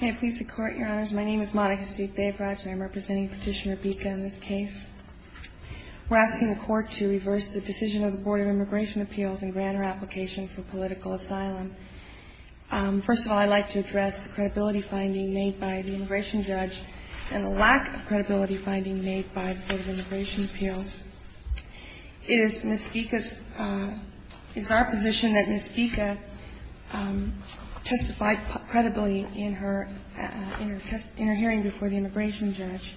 I'm representing Petitioner Bica in this case. We're asking the Court to reverse the decision of the Board of Immigration Appeals and grant her application for political asylum. First of all, I'd like to address the credibility finding made by the immigration judge and the lack of credibility finding made by the Board of Immigration Appeals. It is Ms. Bica's, it's our position that Ms. Bica testified credibly in her hearing before the immigration judge.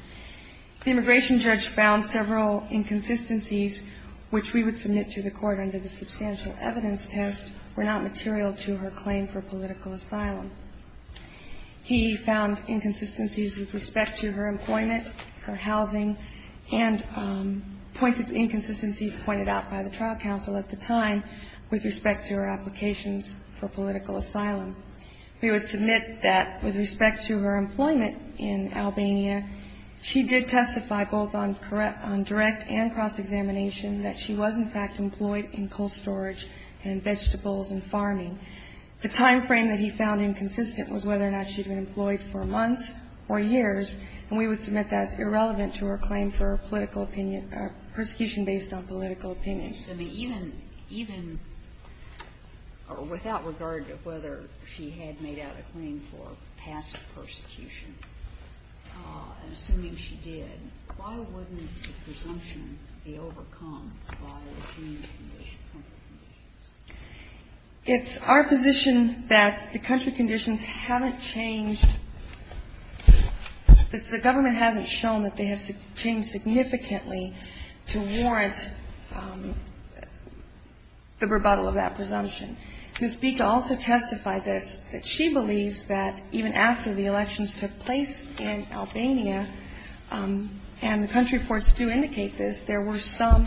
The immigration judge found several inconsistencies which we would submit to the Court under the substantial evidence test were not material to her claim for political asylum. He found inconsistencies with respect to her employment, her housing, and points of inconsistencies pointed out by the trial counsel at the time with respect to her applications for political asylum. We would submit that with respect to her employment in Albania, she did testify both on direct and cross-examination that she was, in fact, employed in coal storage and vegetables and farming. The timeframe that he found inconsistent was whether or not she'd been employed for months or years, and we would submit that's irrelevant to her claim for political opinion or persecution based on political opinion. I mean, even, even without regard to whether she had made out a claim for passive persecution, and assuming she did, why wouldn't the presumption be overcome by the country conditions? It's our position that the country conditions haven't changed, that the government hasn't shown that they have changed significantly to warrant the rebuttal of that presumption. Ms. Bita also testified that she believes that even after the elections took place in Albania, and the country reports do indicate this, there were some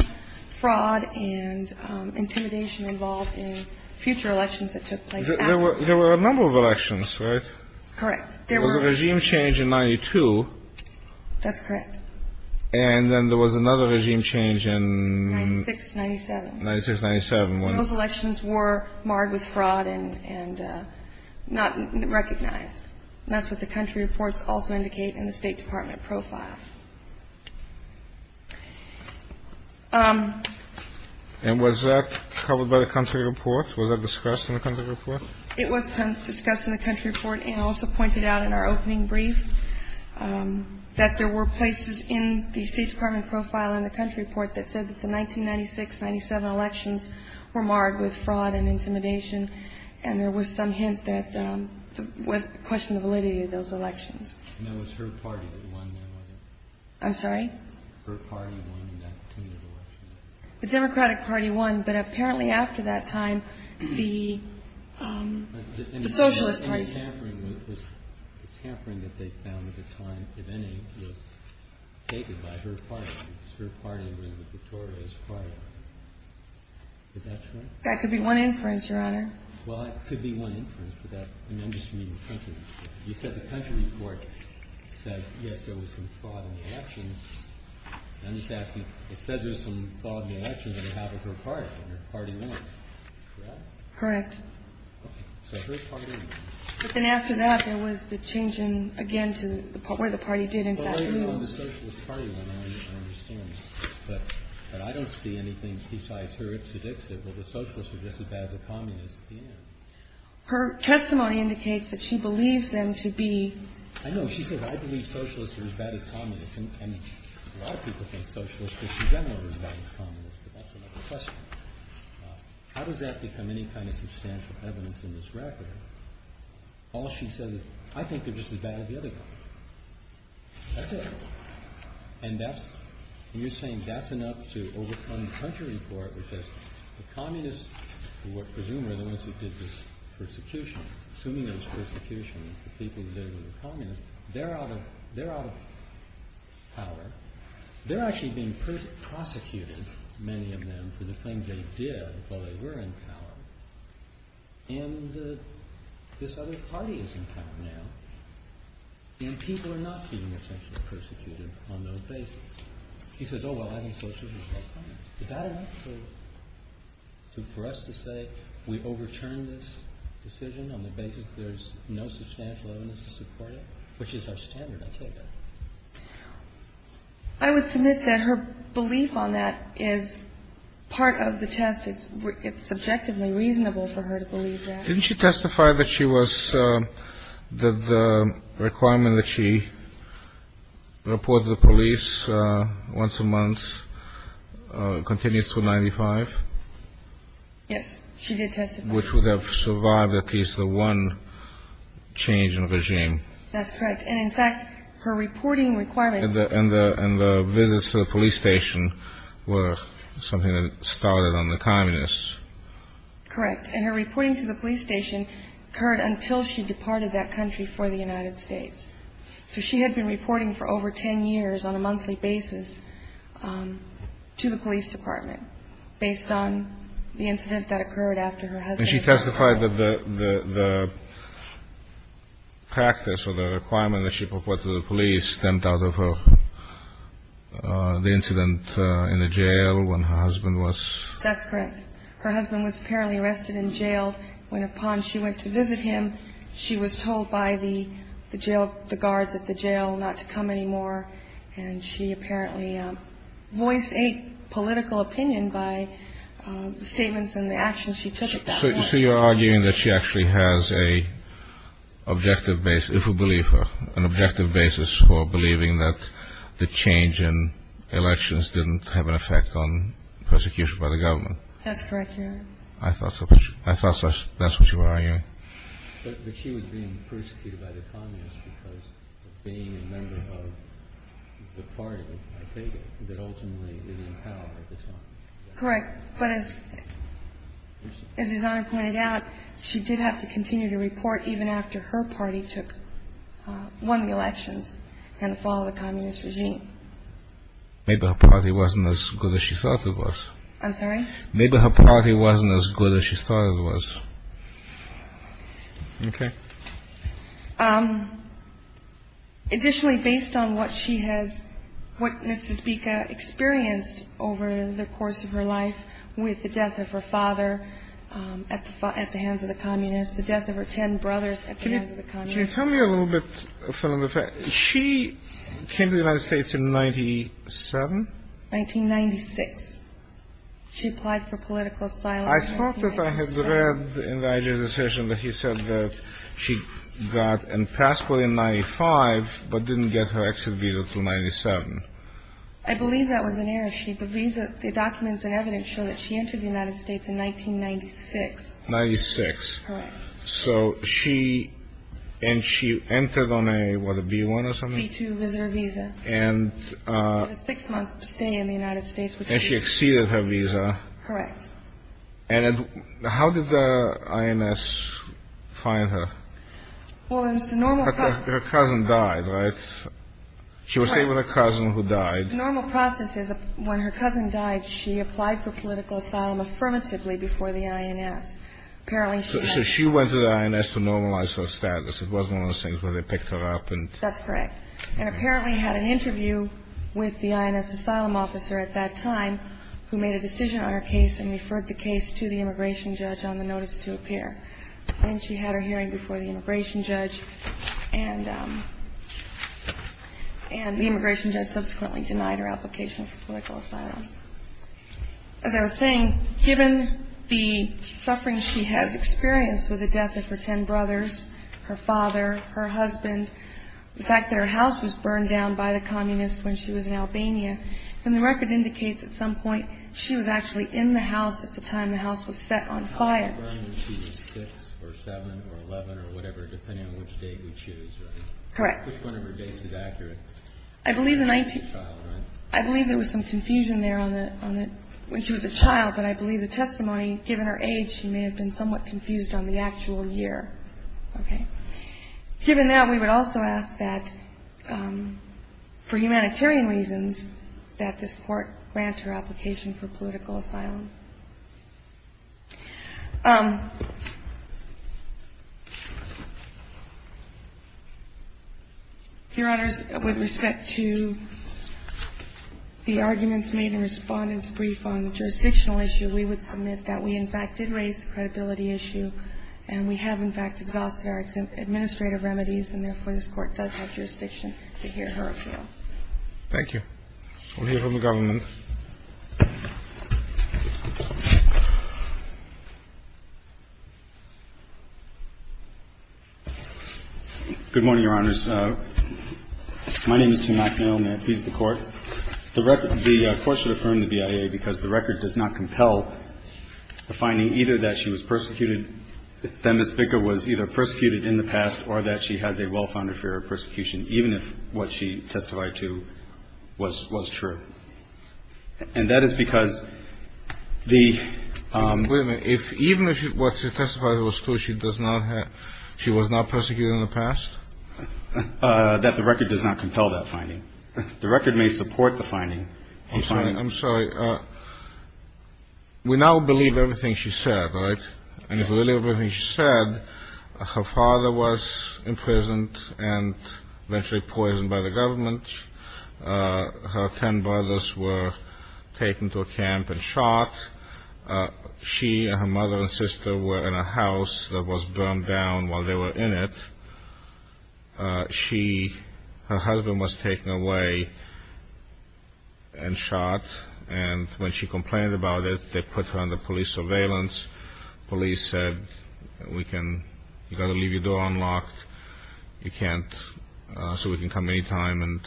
fraud and intimidation involved in future elections that took place after. There were a number of elections, right? Correct. There was a regime change in 92. That's correct. And then there was another regime change in... 96-97. 96-97. Those elections were marred with fraud and not recognized. That's what the country reports also indicate in the State Department profile. And was that covered by the country report? Was that discussed in the country report? It was discussed in the country report and also pointed out in our opening brief that there were places in the State Department profile in the country report that said that the 1996-97 elections were marred with fraud and intimidation. And there was some hint that questioned the validity of those elections. And it was her party that won them, wasn't it? I'm sorry? Her party won in that turn of elections. The Democratic Party won, but apparently after that time, the Socialist Party... The tampering that they found at the time, if any, was taken by her party, because her party was the Victoria's Party. Is that correct? That could be one inference, Your Honor. Well, it could be one inference, but I'm just reading the country report. You said the country report says, yes, there was some fraud in the elections. I'm just asking, it says there was some fraud in the elections on behalf of her party, and her party won. Correct? Correct. Okay. So her party won. But then after that, there was the change in, again, to where the party did, in fact, lose. Well, I don't know the Socialist Party when I understand this, but I don't see anything besides her. It sedicts it. Well, the Socialists are just as bad as the Communists at the end. Her testimony indicates that she believes them to be... I know. She says, I believe Socialists are as bad as Communists. And a lot of people think Socialists are, in general, as bad as Communists, but that's another question. How does that become any kind of substantial evidence in this record? All she says is, I think they're just as bad as the other guy. That's it. And that's... And you're saying that's enough to overcome the country report, which says the Communists, who are presumably the ones who did this persecution, assuming it was persecution, the people who did it were the Communists, they're out of power. They're actually being prosecuted, many of them, for the things they did while they were in power. And this other party is in power now. And people are not being essentially persecuted on those bases. She says, oh, well, I think Socialists are as bad as Communists. Is that enough for us to say we overturned this decision on the basis there's no substantial evidence to support it? Which is our standard, I take it. I would submit that her belief on that is part of the test. It's subjectively reasonable for her to believe that. Didn't she testify that she was, that the requirement that she report to the police once a month continues to 95? Yes, she did testify. Which would have survived at least the one change in regime. That's correct. And in fact, her reporting requirement. And the visits to the police station were something that started on the Communists. Correct. And her reporting to the police station occurred until she departed that country for the United States. So she had been reporting for over 10 years on a monthly basis to the police department, And she testified that the practice or the requirement that she report to the police stemmed out of the incident in the jail when her husband was. That's correct. Her husband was apparently arrested and jailed when upon she went to visit him. She was told by the jail, the guards at the jail not to come anymore. And she apparently voiced a political opinion by the statements and the actions she took. So you're arguing that she actually has a objective base, if you believe her, an objective basis for believing that the change in elections didn't have an effect on persecution by the government. That's correct. I thought so. I thought that's what you were arguing. But she was being persecuted by the communists because of being a member of the party, I think, that ultimately didn't have power at the time. Correct. But as his Honor pointed out, she did have to continue to report even after her party won the elections and followed the communist regime. Maybe her party wasn't as good as she thought it was. I'm sorry? Maybe her party wasn't as good as she thought it was. OK. Additionally, based on what she has witnessed, to speak, experienced over the course of her life with the death of her father at the hands of the communists, the death of her 10 brothers at the hands of the communists. Can you tell me a little bit? She came to the United States in 97. 1996. She applied for political asylum. I thought that I had read in the IJ decision that he said that she got a passport in 95 but didn't get her exit visa till 97. I believe that was an error. The documents and evidence show that she entered the United States in 1996. 96. Correct. So she and she entered on a B-1 or something? B-2 visitor visa. Six months to stay in the United States. And she exceeded her visa. Correct. And how did the INS find her? Well, it's normal. Her cousin died, right? She was with a cousin who died. Normal process is when her cousin died, she applied for political asylum affirmatively before the INS. Apparently, she went to the INS to normalize her status. It was one of those things where they picked her up. That's correct. And apparently had an interview with the INS asylum officer at that time who made a decision on her case and referred the case to the immigration judge on the notice to appear. Then she had her hearing before the immigration judge, and the immigration judge subsequently denied her application for political asylum. As I was saying, given the suffering she has experienced with the death of her ten brothers, her father, her husband, the fact that her house was burned down by the communists when she was in Albania, and the record indicates at some point she was actually in the house at the time the house was set on fire. She was 6 or 7 or 11 or whatever, depending on which date we choose, right? Correct. Which one of her dates is accurate? I believe the 19th. Child, right? I believe there was some confusion there when she was a child, but I believe the testimony, given her age, she may have been somewhat confused on the actual year. Okay. Given that, we would also ask that, for humanitarian reasons, that this Court grant her application for political asylum. Your Honors, with respect to the arguments made in Respondent's brief on the jurisdictional issue, we would submit that we, in fact, did raise the credibility issue, and we have, in fact, exhausted our administrative remedies, and therefore this Court does have jurisdiction to hear her appeal. Thank you. We'll hear from the government. Good morning, Your Honors. My name is Tim McNeil, and I appease the Court. The Court should affirm the BIA because the record does not compel the finding either that she was persecuted, that Ms. Bicker was either persecuted in the past or that she has a well-founded fear of persecution, even if what she testified to was true. And that is because the ---- Wait a minute. Even if what she testified was true, she was not persecuted in the past? That the record does not compel that finding. The record may support the finding. I'm sorry. We now believe everything she said, right? And it's really everything she said. Her father was imprisoned and eventually poisoned by the government. Her ten brothers were taken to a camp and shot. She and her mother and sister were in a house that was burned down while they were in it. Her husband was taken away and shot. And when she complained about it, they put her under police surveillance. Police said, you've got to leave your door unlocked so we can come any time. And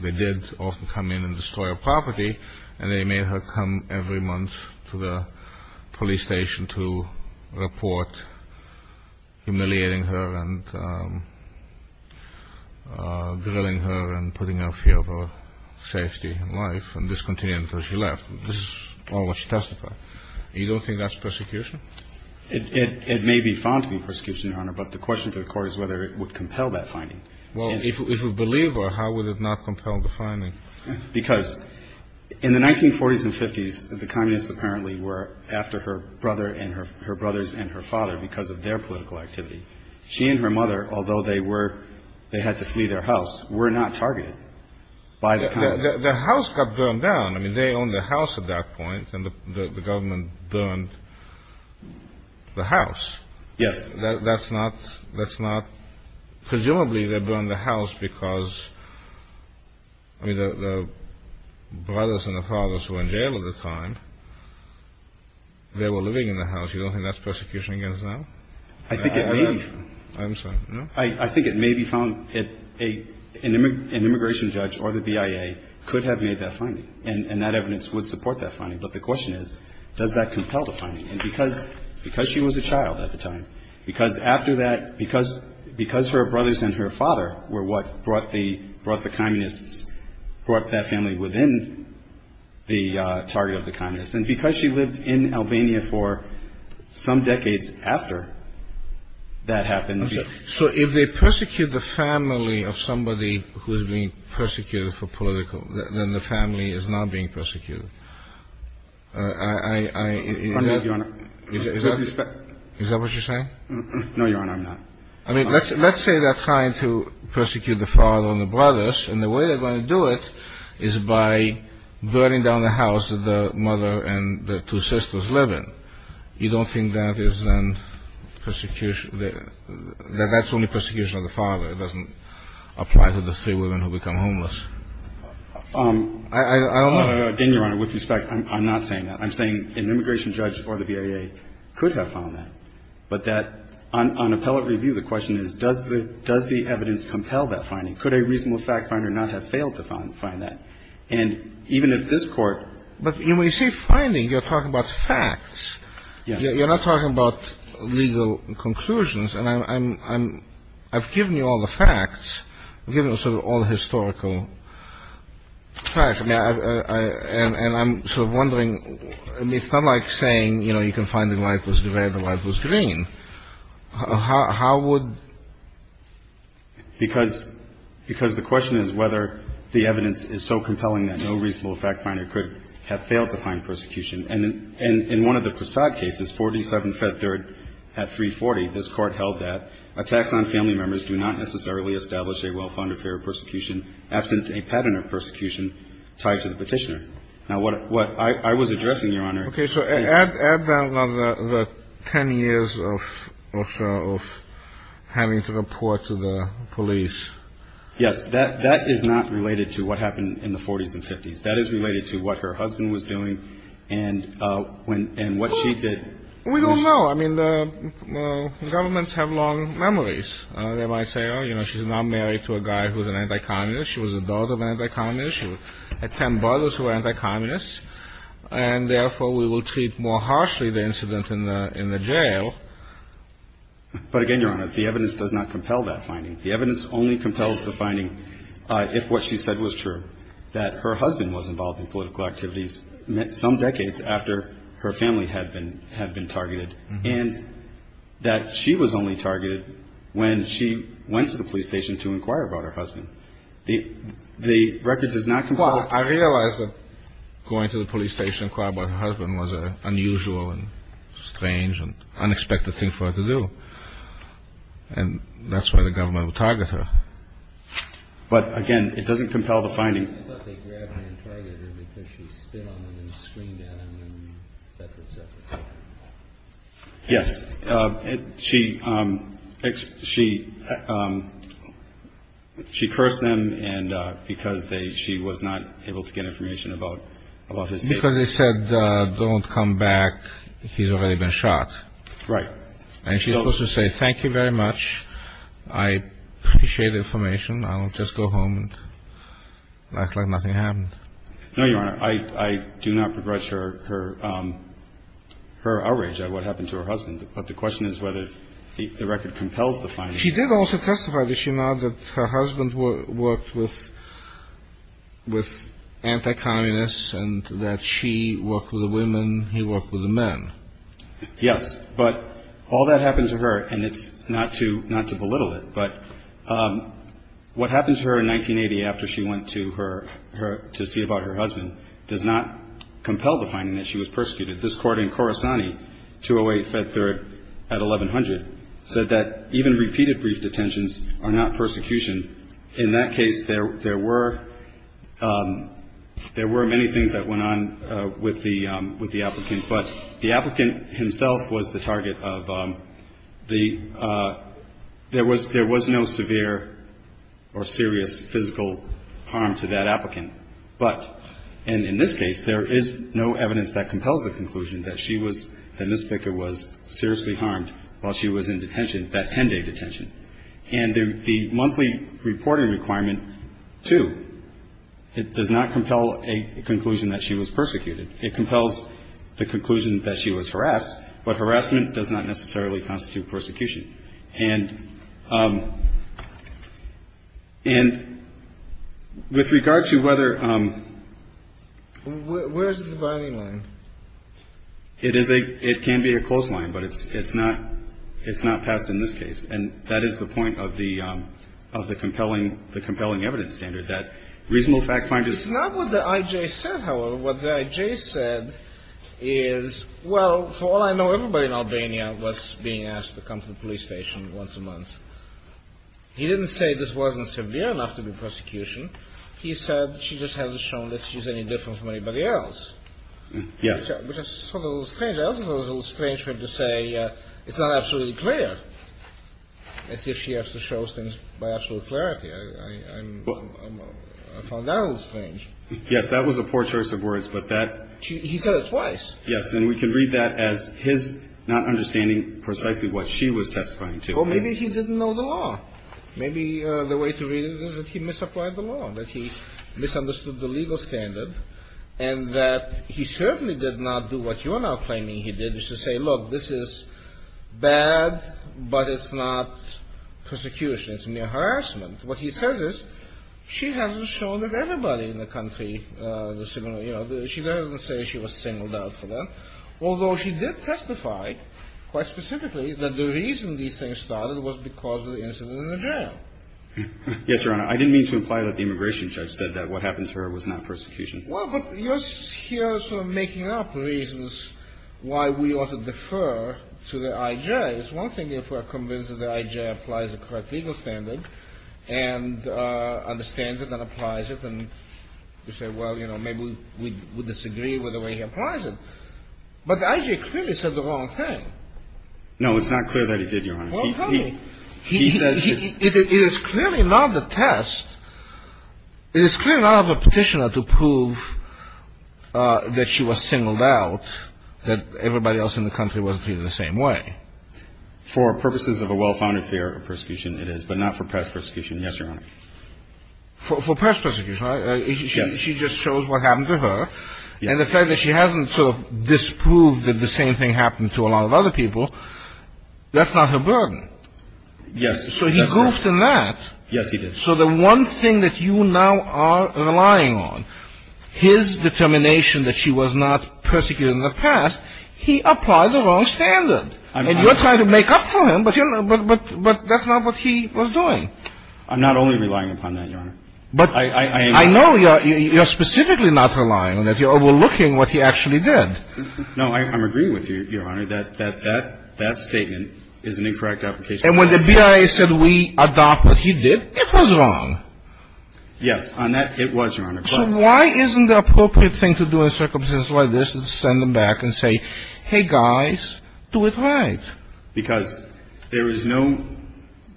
they did often come in and destroy her property. And they made her come every month to the police station to report humiliating her and grilling her and putting a fear of her safety and life and discontinuing until she left. This is all what she testified. You don't think that's persecution? It may be found to be persecution, Your Honor. But the question to the Court is whether it would compel that finding. Well, if a believer, how would it not compel the finding? Because in the 1940s and 50s, the communists apparently were after her brothers and her father because of their political activity. She and her mother, although they had to flee their house, were not targeted by the communists. Their house got burned down. I mean, they owned the house at that point, and the government burned the house. Yes. That's not presumably they burned the house because the brothers and the fathers were in jail at the time. They were living in the house. You don't think that's persecution against them? I think it may be found. I'm sorry, no? I think it may be found. An immigration judge or the BIA could have made that finding. And that evidence would support that finding. But the question is, does that compel the finding? Because she was a child at the time. Because after that, because her brothers and her father were what brought the communists, brought that family within the target of the communists. And because she lived in Albania for some decades after that happened. So if they persecute the family of somebody who is being persecuted for political, then the family is not being persecuted. Pardon me, Your Honor. Is that what you're saying? No, Your Honor, I'm not. I mean, let's say they're trying to persecute the father and the brothers. And the way they're going to do it is by burning down the house that the mother and the two sisters live in. You don't think that is persecution? That that's only persecution of the father? I don't know. Again, Your Honor, with respect, I'm not saying that. I'm saying an immigration judge or the BIA could have found that. But that on appellate review, the question is, does the evidence compel that finding? Could a reasonable fact finder not have failed to find that? And even if this Court ---- But when you say finding, you're talking about facts. Yes. You're not talking about legal conclusions. And I've given you all the facts. I've given you sort of all the historical facts. And I'm sort of wondering, I mean, it's not like saying, you know, you can find the light was red, the light was green. How would ---- Because the question is whether the evidence is so compelling that no reasonable fact finder could have failed to find persecution. And in one of the Krasad cases, 47-3 at 340, this Court held that attacks on family members do not necessarily establish a well-founded fear of persecution absent a pattern of persecution tied to the petitioner. Now, what I was addressing, Your Honor ---- Okay. So add that on the 10 years of having to report to the police. Yes. That is not related to what happened in the 40s and 50s. That is related to what her husband was doing and what she did. We don't know. I mean, the governments have long memories. They might say, oh, you know, she's now married to a guy who's an anti-communist. She was a daughter of an anti-communist. She had ten brothers who were anti-communists. And therefore, we will treat more harshly the incident in the jail. But again, Your Honor, the evidence does not compel that finding. The evidence only compels the finding if what she said was true, that her husband was involved in political activities some decades after her family had been targeted, and that she was only targeted when she went to the police station to inquire about her husband. The record does not compel that finding. Well, I realize that going to the police station to inquire about her husband was an unusual and strange and unexpected thing for her to do, and that's why the government would target her. But again, it doesn't compel the finding. I thought they grabbed her and targeted her because she spit on him and screamed at him and et cetera, et cetera. Yes, she cursed them because she was not able to get information about his statement. Because they said, don't come back. He's already been shot. Right. And she's supposed to say, thank you very much. I appreciate the information. I'll just go home and act like nothing happened. No, Your Honor. I do not begrudge her outrage at what happened to her husband. But the question is whether the record compels the finding. She did also testify, did she not, that her husband worked with anti-communists and that she worked with the women, he worked with the men. Yes. But all that happened to her, and it's not to belittle it, but what happened to her in 1980 after she went to see about her husband does not compel the finding that she was persecuted. This court in Corisani, 208 Fed Third at 1100, said that even repeated brief detentions are not persecution. In that case, there were many things that went on with the applicant. But the applicant himself was the target of the ‑‑ there was no severe or serious physical harm to that applicant. But, and in this case, there is no evidence that compels the conclusion that she was, that Ms. Baker was seriously harmed while she was in detention, that 10‑day detention. And the monthly reporting requirement, too, it does not compel a conclusion that she was persecuted. It compels the conclusion that she was harassed, but harassment does not necessarily constitute persecution. And with regard to whether ‑‑ Where is the dividing line? It is a ‑‑ it can be a close line, but it's not passed in this case. And that is the point of the compelling evidence standard, that reasonable fact finders ‑‑ It's not what the I.J. said, however. What the I.J. said is, well, for all I know, everybody in Albania was being asked to come to the police station once a month. He didn't say this wasn't severe enough to be persecution. He said she just hasn't shown that she's any different from anybody else. Yes. Which is sort of a little strange. I also thought it was a little strange for him to say it's not absolutely clear, as if she has to show things by absolute clarity. I found that a little strange. Yes. That was a poor choice of words. But that ‑‑ He said it twice. Yes. And we can read that as his not understanding precisely what she was testifying to. Well, maybe he didn't know the law. Maybe the way to read it is that he misapplied the law, that he misunderstood the legal standard, and that he certainly did not do what you are now claiming he did, which is say, look, this is bad, but it's not persecution. It's mere harassment. What he says is she hasn't shown that everybody in the country is similar, you know. She doesn't say she was singled out for that, although she did testify quite specifically that the reason these things started was because of the incident in the jail. Yes, Your Honor. I didn't mean to imply that the immigration judge said that what happened to her was not persecution. Well, but you're here sort of making up reasons why we ought to defer to the I.J. It's one thing if we're convinced that the I.J. applies the correct legal standard and understands it and applies it, and we say, well, you know, maybe we disagree with the way he applies it. But the I.J. clearly said the wrong thing. No, it's not clear that he did, Your Honor. Well, tell me. He said it's ‑‑ It is clearly not the test. It is clearly not of a petitioner to prove that she was singled out, that everybody else in the country was treated the same way. For purposes of a well‑founded theory of persecution, it is, but not for past persecution, yes, Your Honor. For past persecution, right? Yes. She just shows what happened to her. And the fact that she hasn't sort of disproved that the same thing happened to a lot of other people, that's not her burden. Yes. So he goofed in that. Yes, he did. So the one thing that you now are relying on, his determination that she was not persecuted in the past, he applied the wrong standard. And you're trying to make up for him, but that's not what he was doing. I'm not only relying upon that, Your Honor. But I know you're specifically not relying on it. You're overlooking what he actually did. No, I'm agreeing with you, Your Honor, that that statement is an incorrect application. And when the BIA said we adopt what he did, it was wrong. Yes. On that, it was, Your Honor. So why isn't the appropriate thing to do in a circumstance like this is to send them back and say, hey, guys, do it right? Because there is no,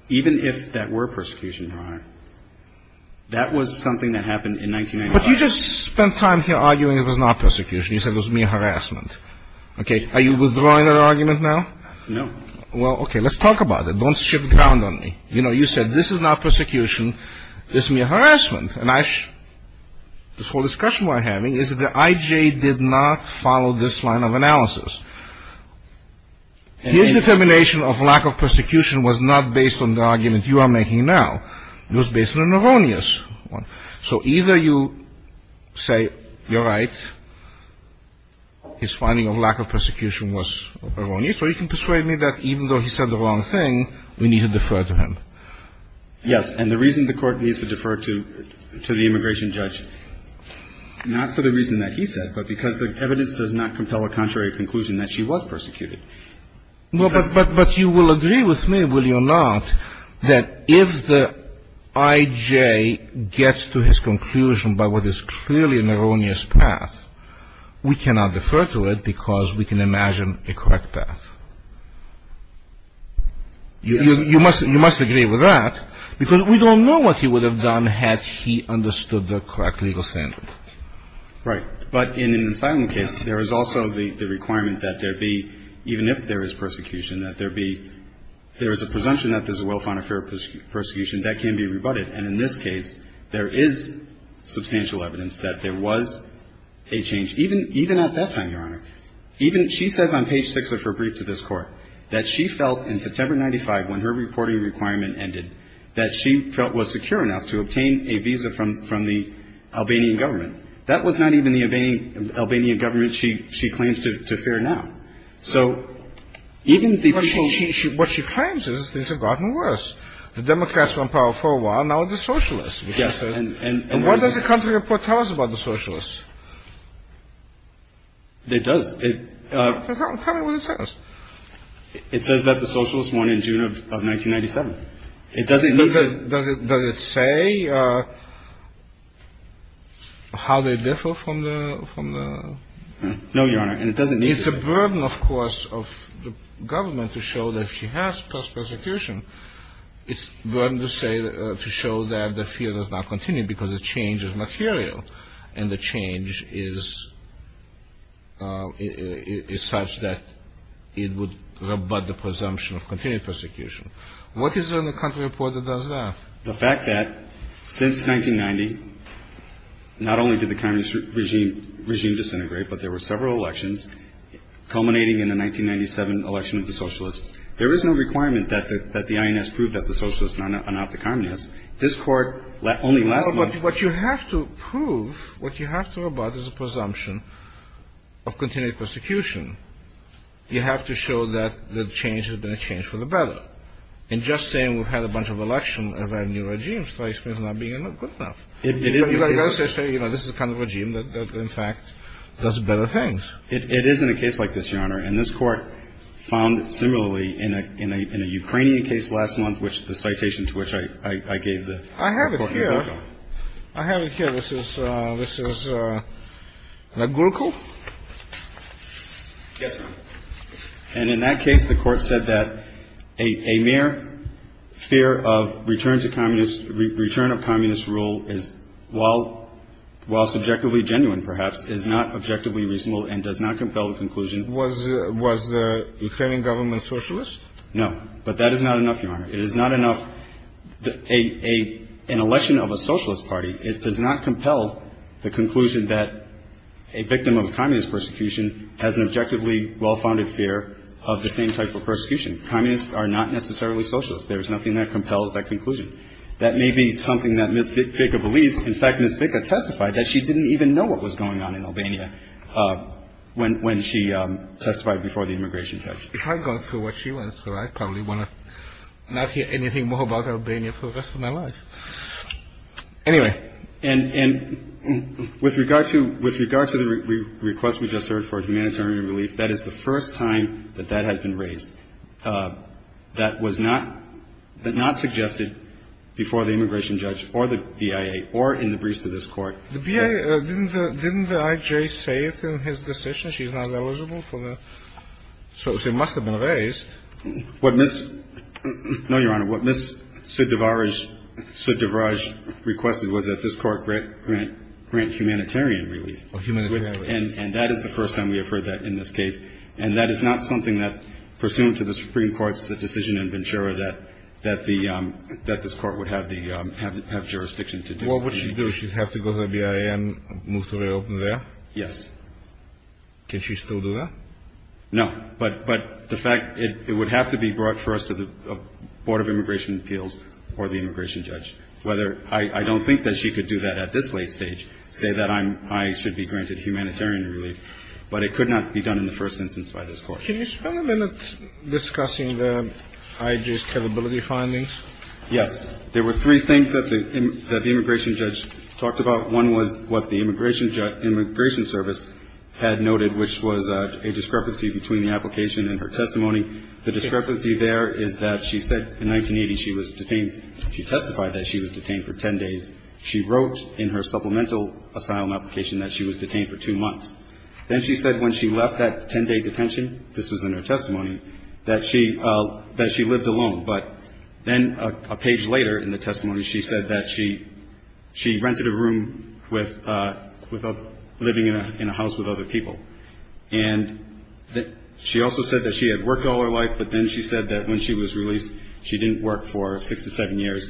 even if that were persecution, Your Honor, that was something that happened in 1995. But you just spent time here arguing it was not persecution. You said it was mere harassment. Okay. Are you withdrawing that argument now? No. Well, okay, let's talk about it. Don't shift the ground on me. You know, you said this is not persecution. This is mere harassment. And this whole discussion we're having is that the I.J. did not follow this line of analysis. His determination of lack of persecution was not based on the argument you are making now. It was based on an erroneous one. So either you say you're right, his finding of lack of persecution was erroneous, or you can persuade me that even though he said the wrong thing, we need to defer to him. Yes. And the reason the Court needs to defer to the immigration judge, not for the reason that he said, but because the evidence does not compel a contrary conclusion that she was persecuted. Well, but you will agree with me, will you not, that if the I.J. gets to his conclusion by what is clearly an erroneous path, we cannot defer to it because we can imagine a correct path. You must agree with that because we don't know what he would have done had he understood the correct legal standard. Right. But in an asylum case, there is also the requirement that there be, even if there is persecution, that there be, there is a presumption that there's a well-founded fear of persecution that can be rebutted. And in this case, there is substantial evidence that there was a change, even at that time, Your Honor. Even she says on page 6 of her brief to this Court that she felt in September 1995, when her reporting requirement ended, that she felt was secure enough to obtain a visa from the Albanian government. That was not even the Albanian government she claims to fear now. So even the people she – What she claims is things have gotten worse. The Democrats were in power for a while. Now it's the socialists. Yes. And what does the country report tell us about the socialists? It does. Tell me what it says. It says that the socialists won in June of 1997. It doesn't – Does it say how they differ from the – No, Your Honor. And it doesn't mean – It's a burden, of course, of the government to show that she has persecution. It's a burden to say – to show that the fear does not continue because the change is material and the change is such that it would rebut the presumption of continued persecution. What is it in the country report that does that? The fact that since 1990, not only did the communist regime disintegrate, but there were several elections culminating in the 1997 election of the socialists. There is no requirement that the INS prove that the socialists are not the communists. This Court only last month – But what you have to prove, what you have to rebut is a presumption of continued persecution. You have to show that the change has been a change for the better. And just saying we've had a bunch of elections of a new regime strikes me as not being good enough. It is – This is the kind of regime that, in fact, does better things. It is in a case like this, Your Honor, and this Court found similarly in a Ukrainian case last month, which the citation to which I gave the – I have it here. I have it here. This is – this is Legulko? Yes, Your Honor. And in that case, the Court said that a mere fear of return to communist – return of communist rule is – while subjectively genuine, perhaps, is not objectively reasonable and does not compel the conclusion – Was the Ukrainian government socialist? No. But that is not enough, Your Honor. It is not enough – an election of a socialist party, it does not compel the conclusion that a victim of communist persecution has an objectively well-founded fear of the same type of persecution. Communists are not necessarily socialists. There is nothing that compels that conclusion. That may be something that Ms. Bicca believes. In fact, Ms. Bicca testified that she didn't even know what was going on in Albania when she testified before the immigration judge. I've gone through what she went through. I probably want to not hear anything more about Albania for the rest of my life. Anyway, and – and with regard to – with regard to the request we just heard for humanitarian relief, that is the first time that that has been raised. That was not – that not suggested before the immigration judge or the BIA or in the briefs to this Court. The BIA – didn't the – didn't the IJ say it in his decision she's not eligible for the – So it must have been raised. What Ms. – no, Your Honor. What Ms. Suddivaraj – Suddivaraj requested was that this Court grant humanitarian relief. Oh, humanitarian relief. And that is the first time we have heard that in this case. And that is not something that, pursuant to the Supreme Court's decision in Ventura, that the – that this Court would have the – have jurisdiction to do. Well, what she'd do, she'd have to go to the BIA and move to reopen there? Yes. Can she still do that? No. But – but the fact – it would have to be brought first to the Board of Immigration Appeals or the immigration judge. Whether – I don't think that she could do that at this late stage, say that I'm – I should be granted humanitarian relief. But it could not be done in the first instance by this Court. Can you spend a minute discussing the IJ's capability findings? Yes. There were three things that the – that the immigration judge talked about. One was what the immigration judge – immigration service had noted, which was a discrepancy between the application and her testimony. The discrepancy there is that she said in 1980 she was detained – she testified that she was detained for 10 days. She wrote in her supplemental asylum application that she was detained for two months. Then she said when she left that 10-day detention – this was in her testimony – that she – that she lived alone. But then a page later in the testimony, she said that she – she rented a room with a – living in a house with other people. And she also said that she had worked all her life, but then she said that when she was released, she didn't work for six to seven years.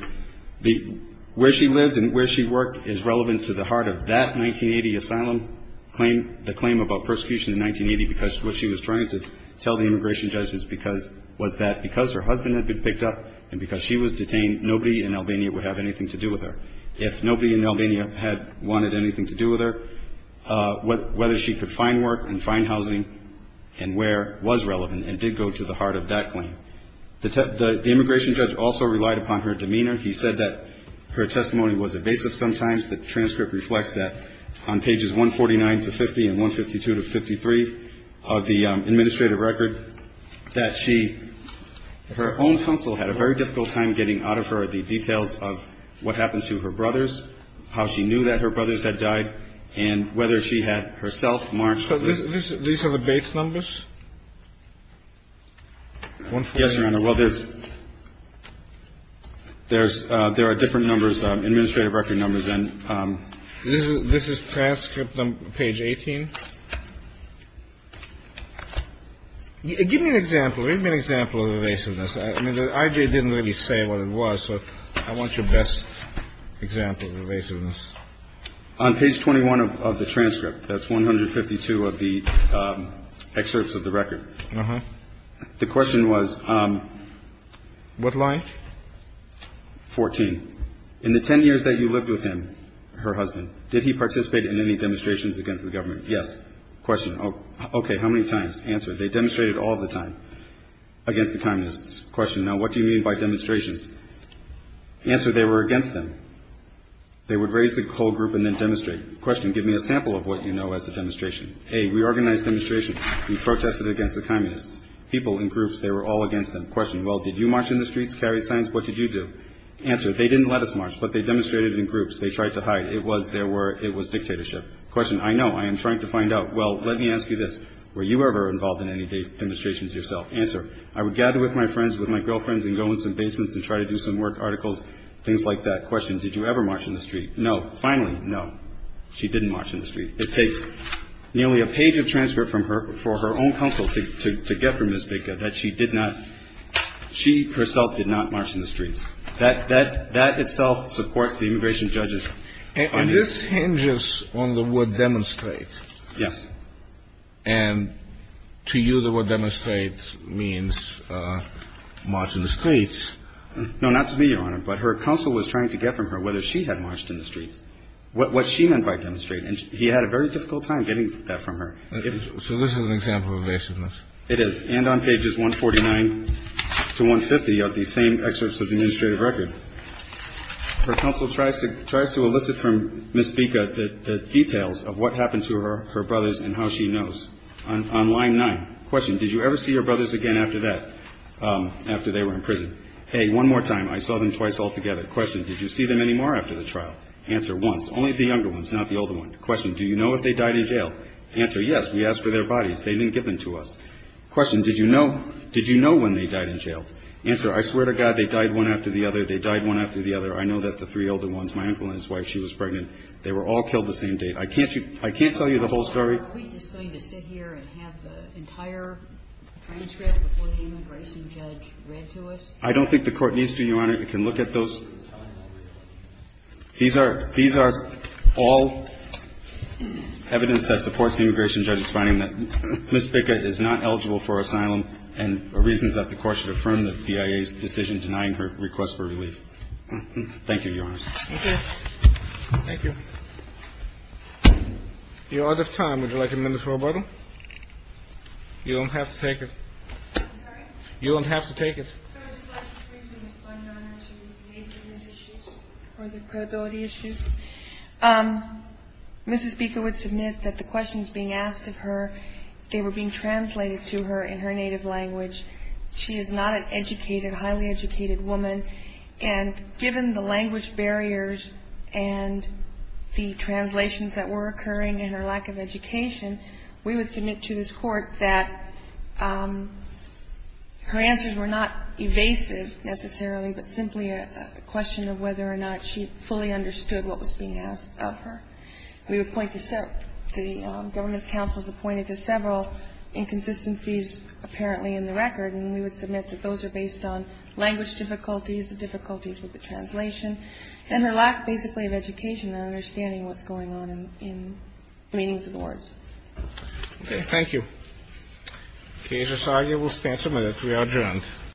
The – where she lived and where she worked is relevant to the heart of that 1980 asylum claim – the claim about persecution in 1980, because what she was trying to tell the immigration judges because – was that because her husband had been picked up and because she was detained, nobody in Albania would have anything to do with her. If nobody in Albania had wanted anything to do with her, whether she could find work and find housing and where was relevant and did go to the heart of that claim. The immigration judge also relied upon her demeanor. He said that her testimony was evasive sometimes. The transcript reflects that on pages 149 to 50 and 152 to 53 of the administrative record, that she – her own counsel had a very difficult time getting out of her the details of what happened to her brothers, how she knew that her brothers had died, and whether she had herself marched. These are the base numbers? Yes, Your Honor. Well, there's – there's – there are different numbers, administrative record numbers, and – This is transcript on page 18? Give me an example. Give me an example of evasiveness. I mean, the IG didn't really say what it was, so I want your best example of evasiveness. On page 21 of the transcript, that's 152 of the excerpts of the record. Uh-huh. The question was – What line? 14. In the 10 years that you lived with him, her husband, did he participate in any demonstrations against the government? Yes. Question. Okay. How many times? Answer. They demonstrated all the time against the communists. Question. Now, what do you mean by demonstrations? Answer. They were against them. They would raise the whole group and then demonstrate. Question. Give me a sample of what you know as a demonstration. A. Reorganized demonstrations. He protested against the communists. People in groups, they were all against them. Question. Well, did you march in the streets, carry signs? What did you do? Answer. They didn't let us march, but they demonstrated in groups. They tried to hide. It was – there were – it was dictatorship. Question. I know. I am trying to find out. Well, let me ask you this. Were you ever involved in any demonstrations yourself? Answer. I would gather with my friends, with my girlfriends, and go in some basements and try to do some work, articles, things like that. Question. Did you ever march in the street? No. Finally, no. She didn't march in the street. It takes nearly a page of transcript from her – for her own counsel to get from Ms. Baker that she did not – she herself did not march in the streets. That – that itself supports the immigration judges. And this hinges on the word demonstrate. Yes. And to you, the word demonstrate means march in the streets. No, not to me, Your Honor. But her counsel was trying to get from her whether she had marched in the streets, what she meant by demonstrate. And he had a very difficult time getting that from her. So this is an example of evasiveness. And on pages 149 to 150 of these same excerpts of the instrument, it says, Her counsel tries to – tries to elicit from Ms. Baker the details of what happened to her brothers and how she knows. On line 9. Question. Did you ever see your brothers again after that – after they were in prison? Hey, one more time. I saw them twice altogether. Question. Did you see them anymore after the trial? Answer. Once. Only the younger ones, not the older ones. Question. Do you know if they died in jail? Answer. Yes. We asked for their bodies. They didn't give them to us. Answer. I swear to God, they died one after the other. Question. Do you know if they died in jail? Answer. Yes. We asked for their bodies. They died one after the other. They died one after the other. I know that the three older ones, my uncle and his wife, she was pregnant. They were all killed the same day. I can't you – I can't tell you the whole story. Are we just going to sit here and have the entire transcript before the immigration judge read to us? I don't think the Court needs to, Your Honor. It can look at those. These are – these are all evidence that supports the immigration judge's finding that Ms. Baker is not eligible for asylum and reasons that the Court should affirm It can look at those. These are – these are all evidence that supports the immigration judge's finding Thank you, Your Honor. Thank you. Your Honor at this time, would you like a minutes for rebuttal? You will not have to take it. I'm sorry? You won't have to take it. But I would like to discuss the eligibility issues? Mrs. Baker would submit that the questions being asked of her, they were being translated to her in her native language. She is not an educated, highly educated woman. And given the language barriers and the translations that were occurring and her lack of education, we would submit to this Court that her answers were not evasive, necessarily, but simply a question of whether or not she fully understood what was being asked of her. We would point to several, the government's counsel has pointed to several inconsistencies apparently in the record. And we would submit that those are based on language difficulties, the difficulties with the translation, and her lack, basically, of education and understanding what's going on in the meanings of the words. Okay. Thank you. Okay. Your Honor, you will stand for a minute. We are adjourned.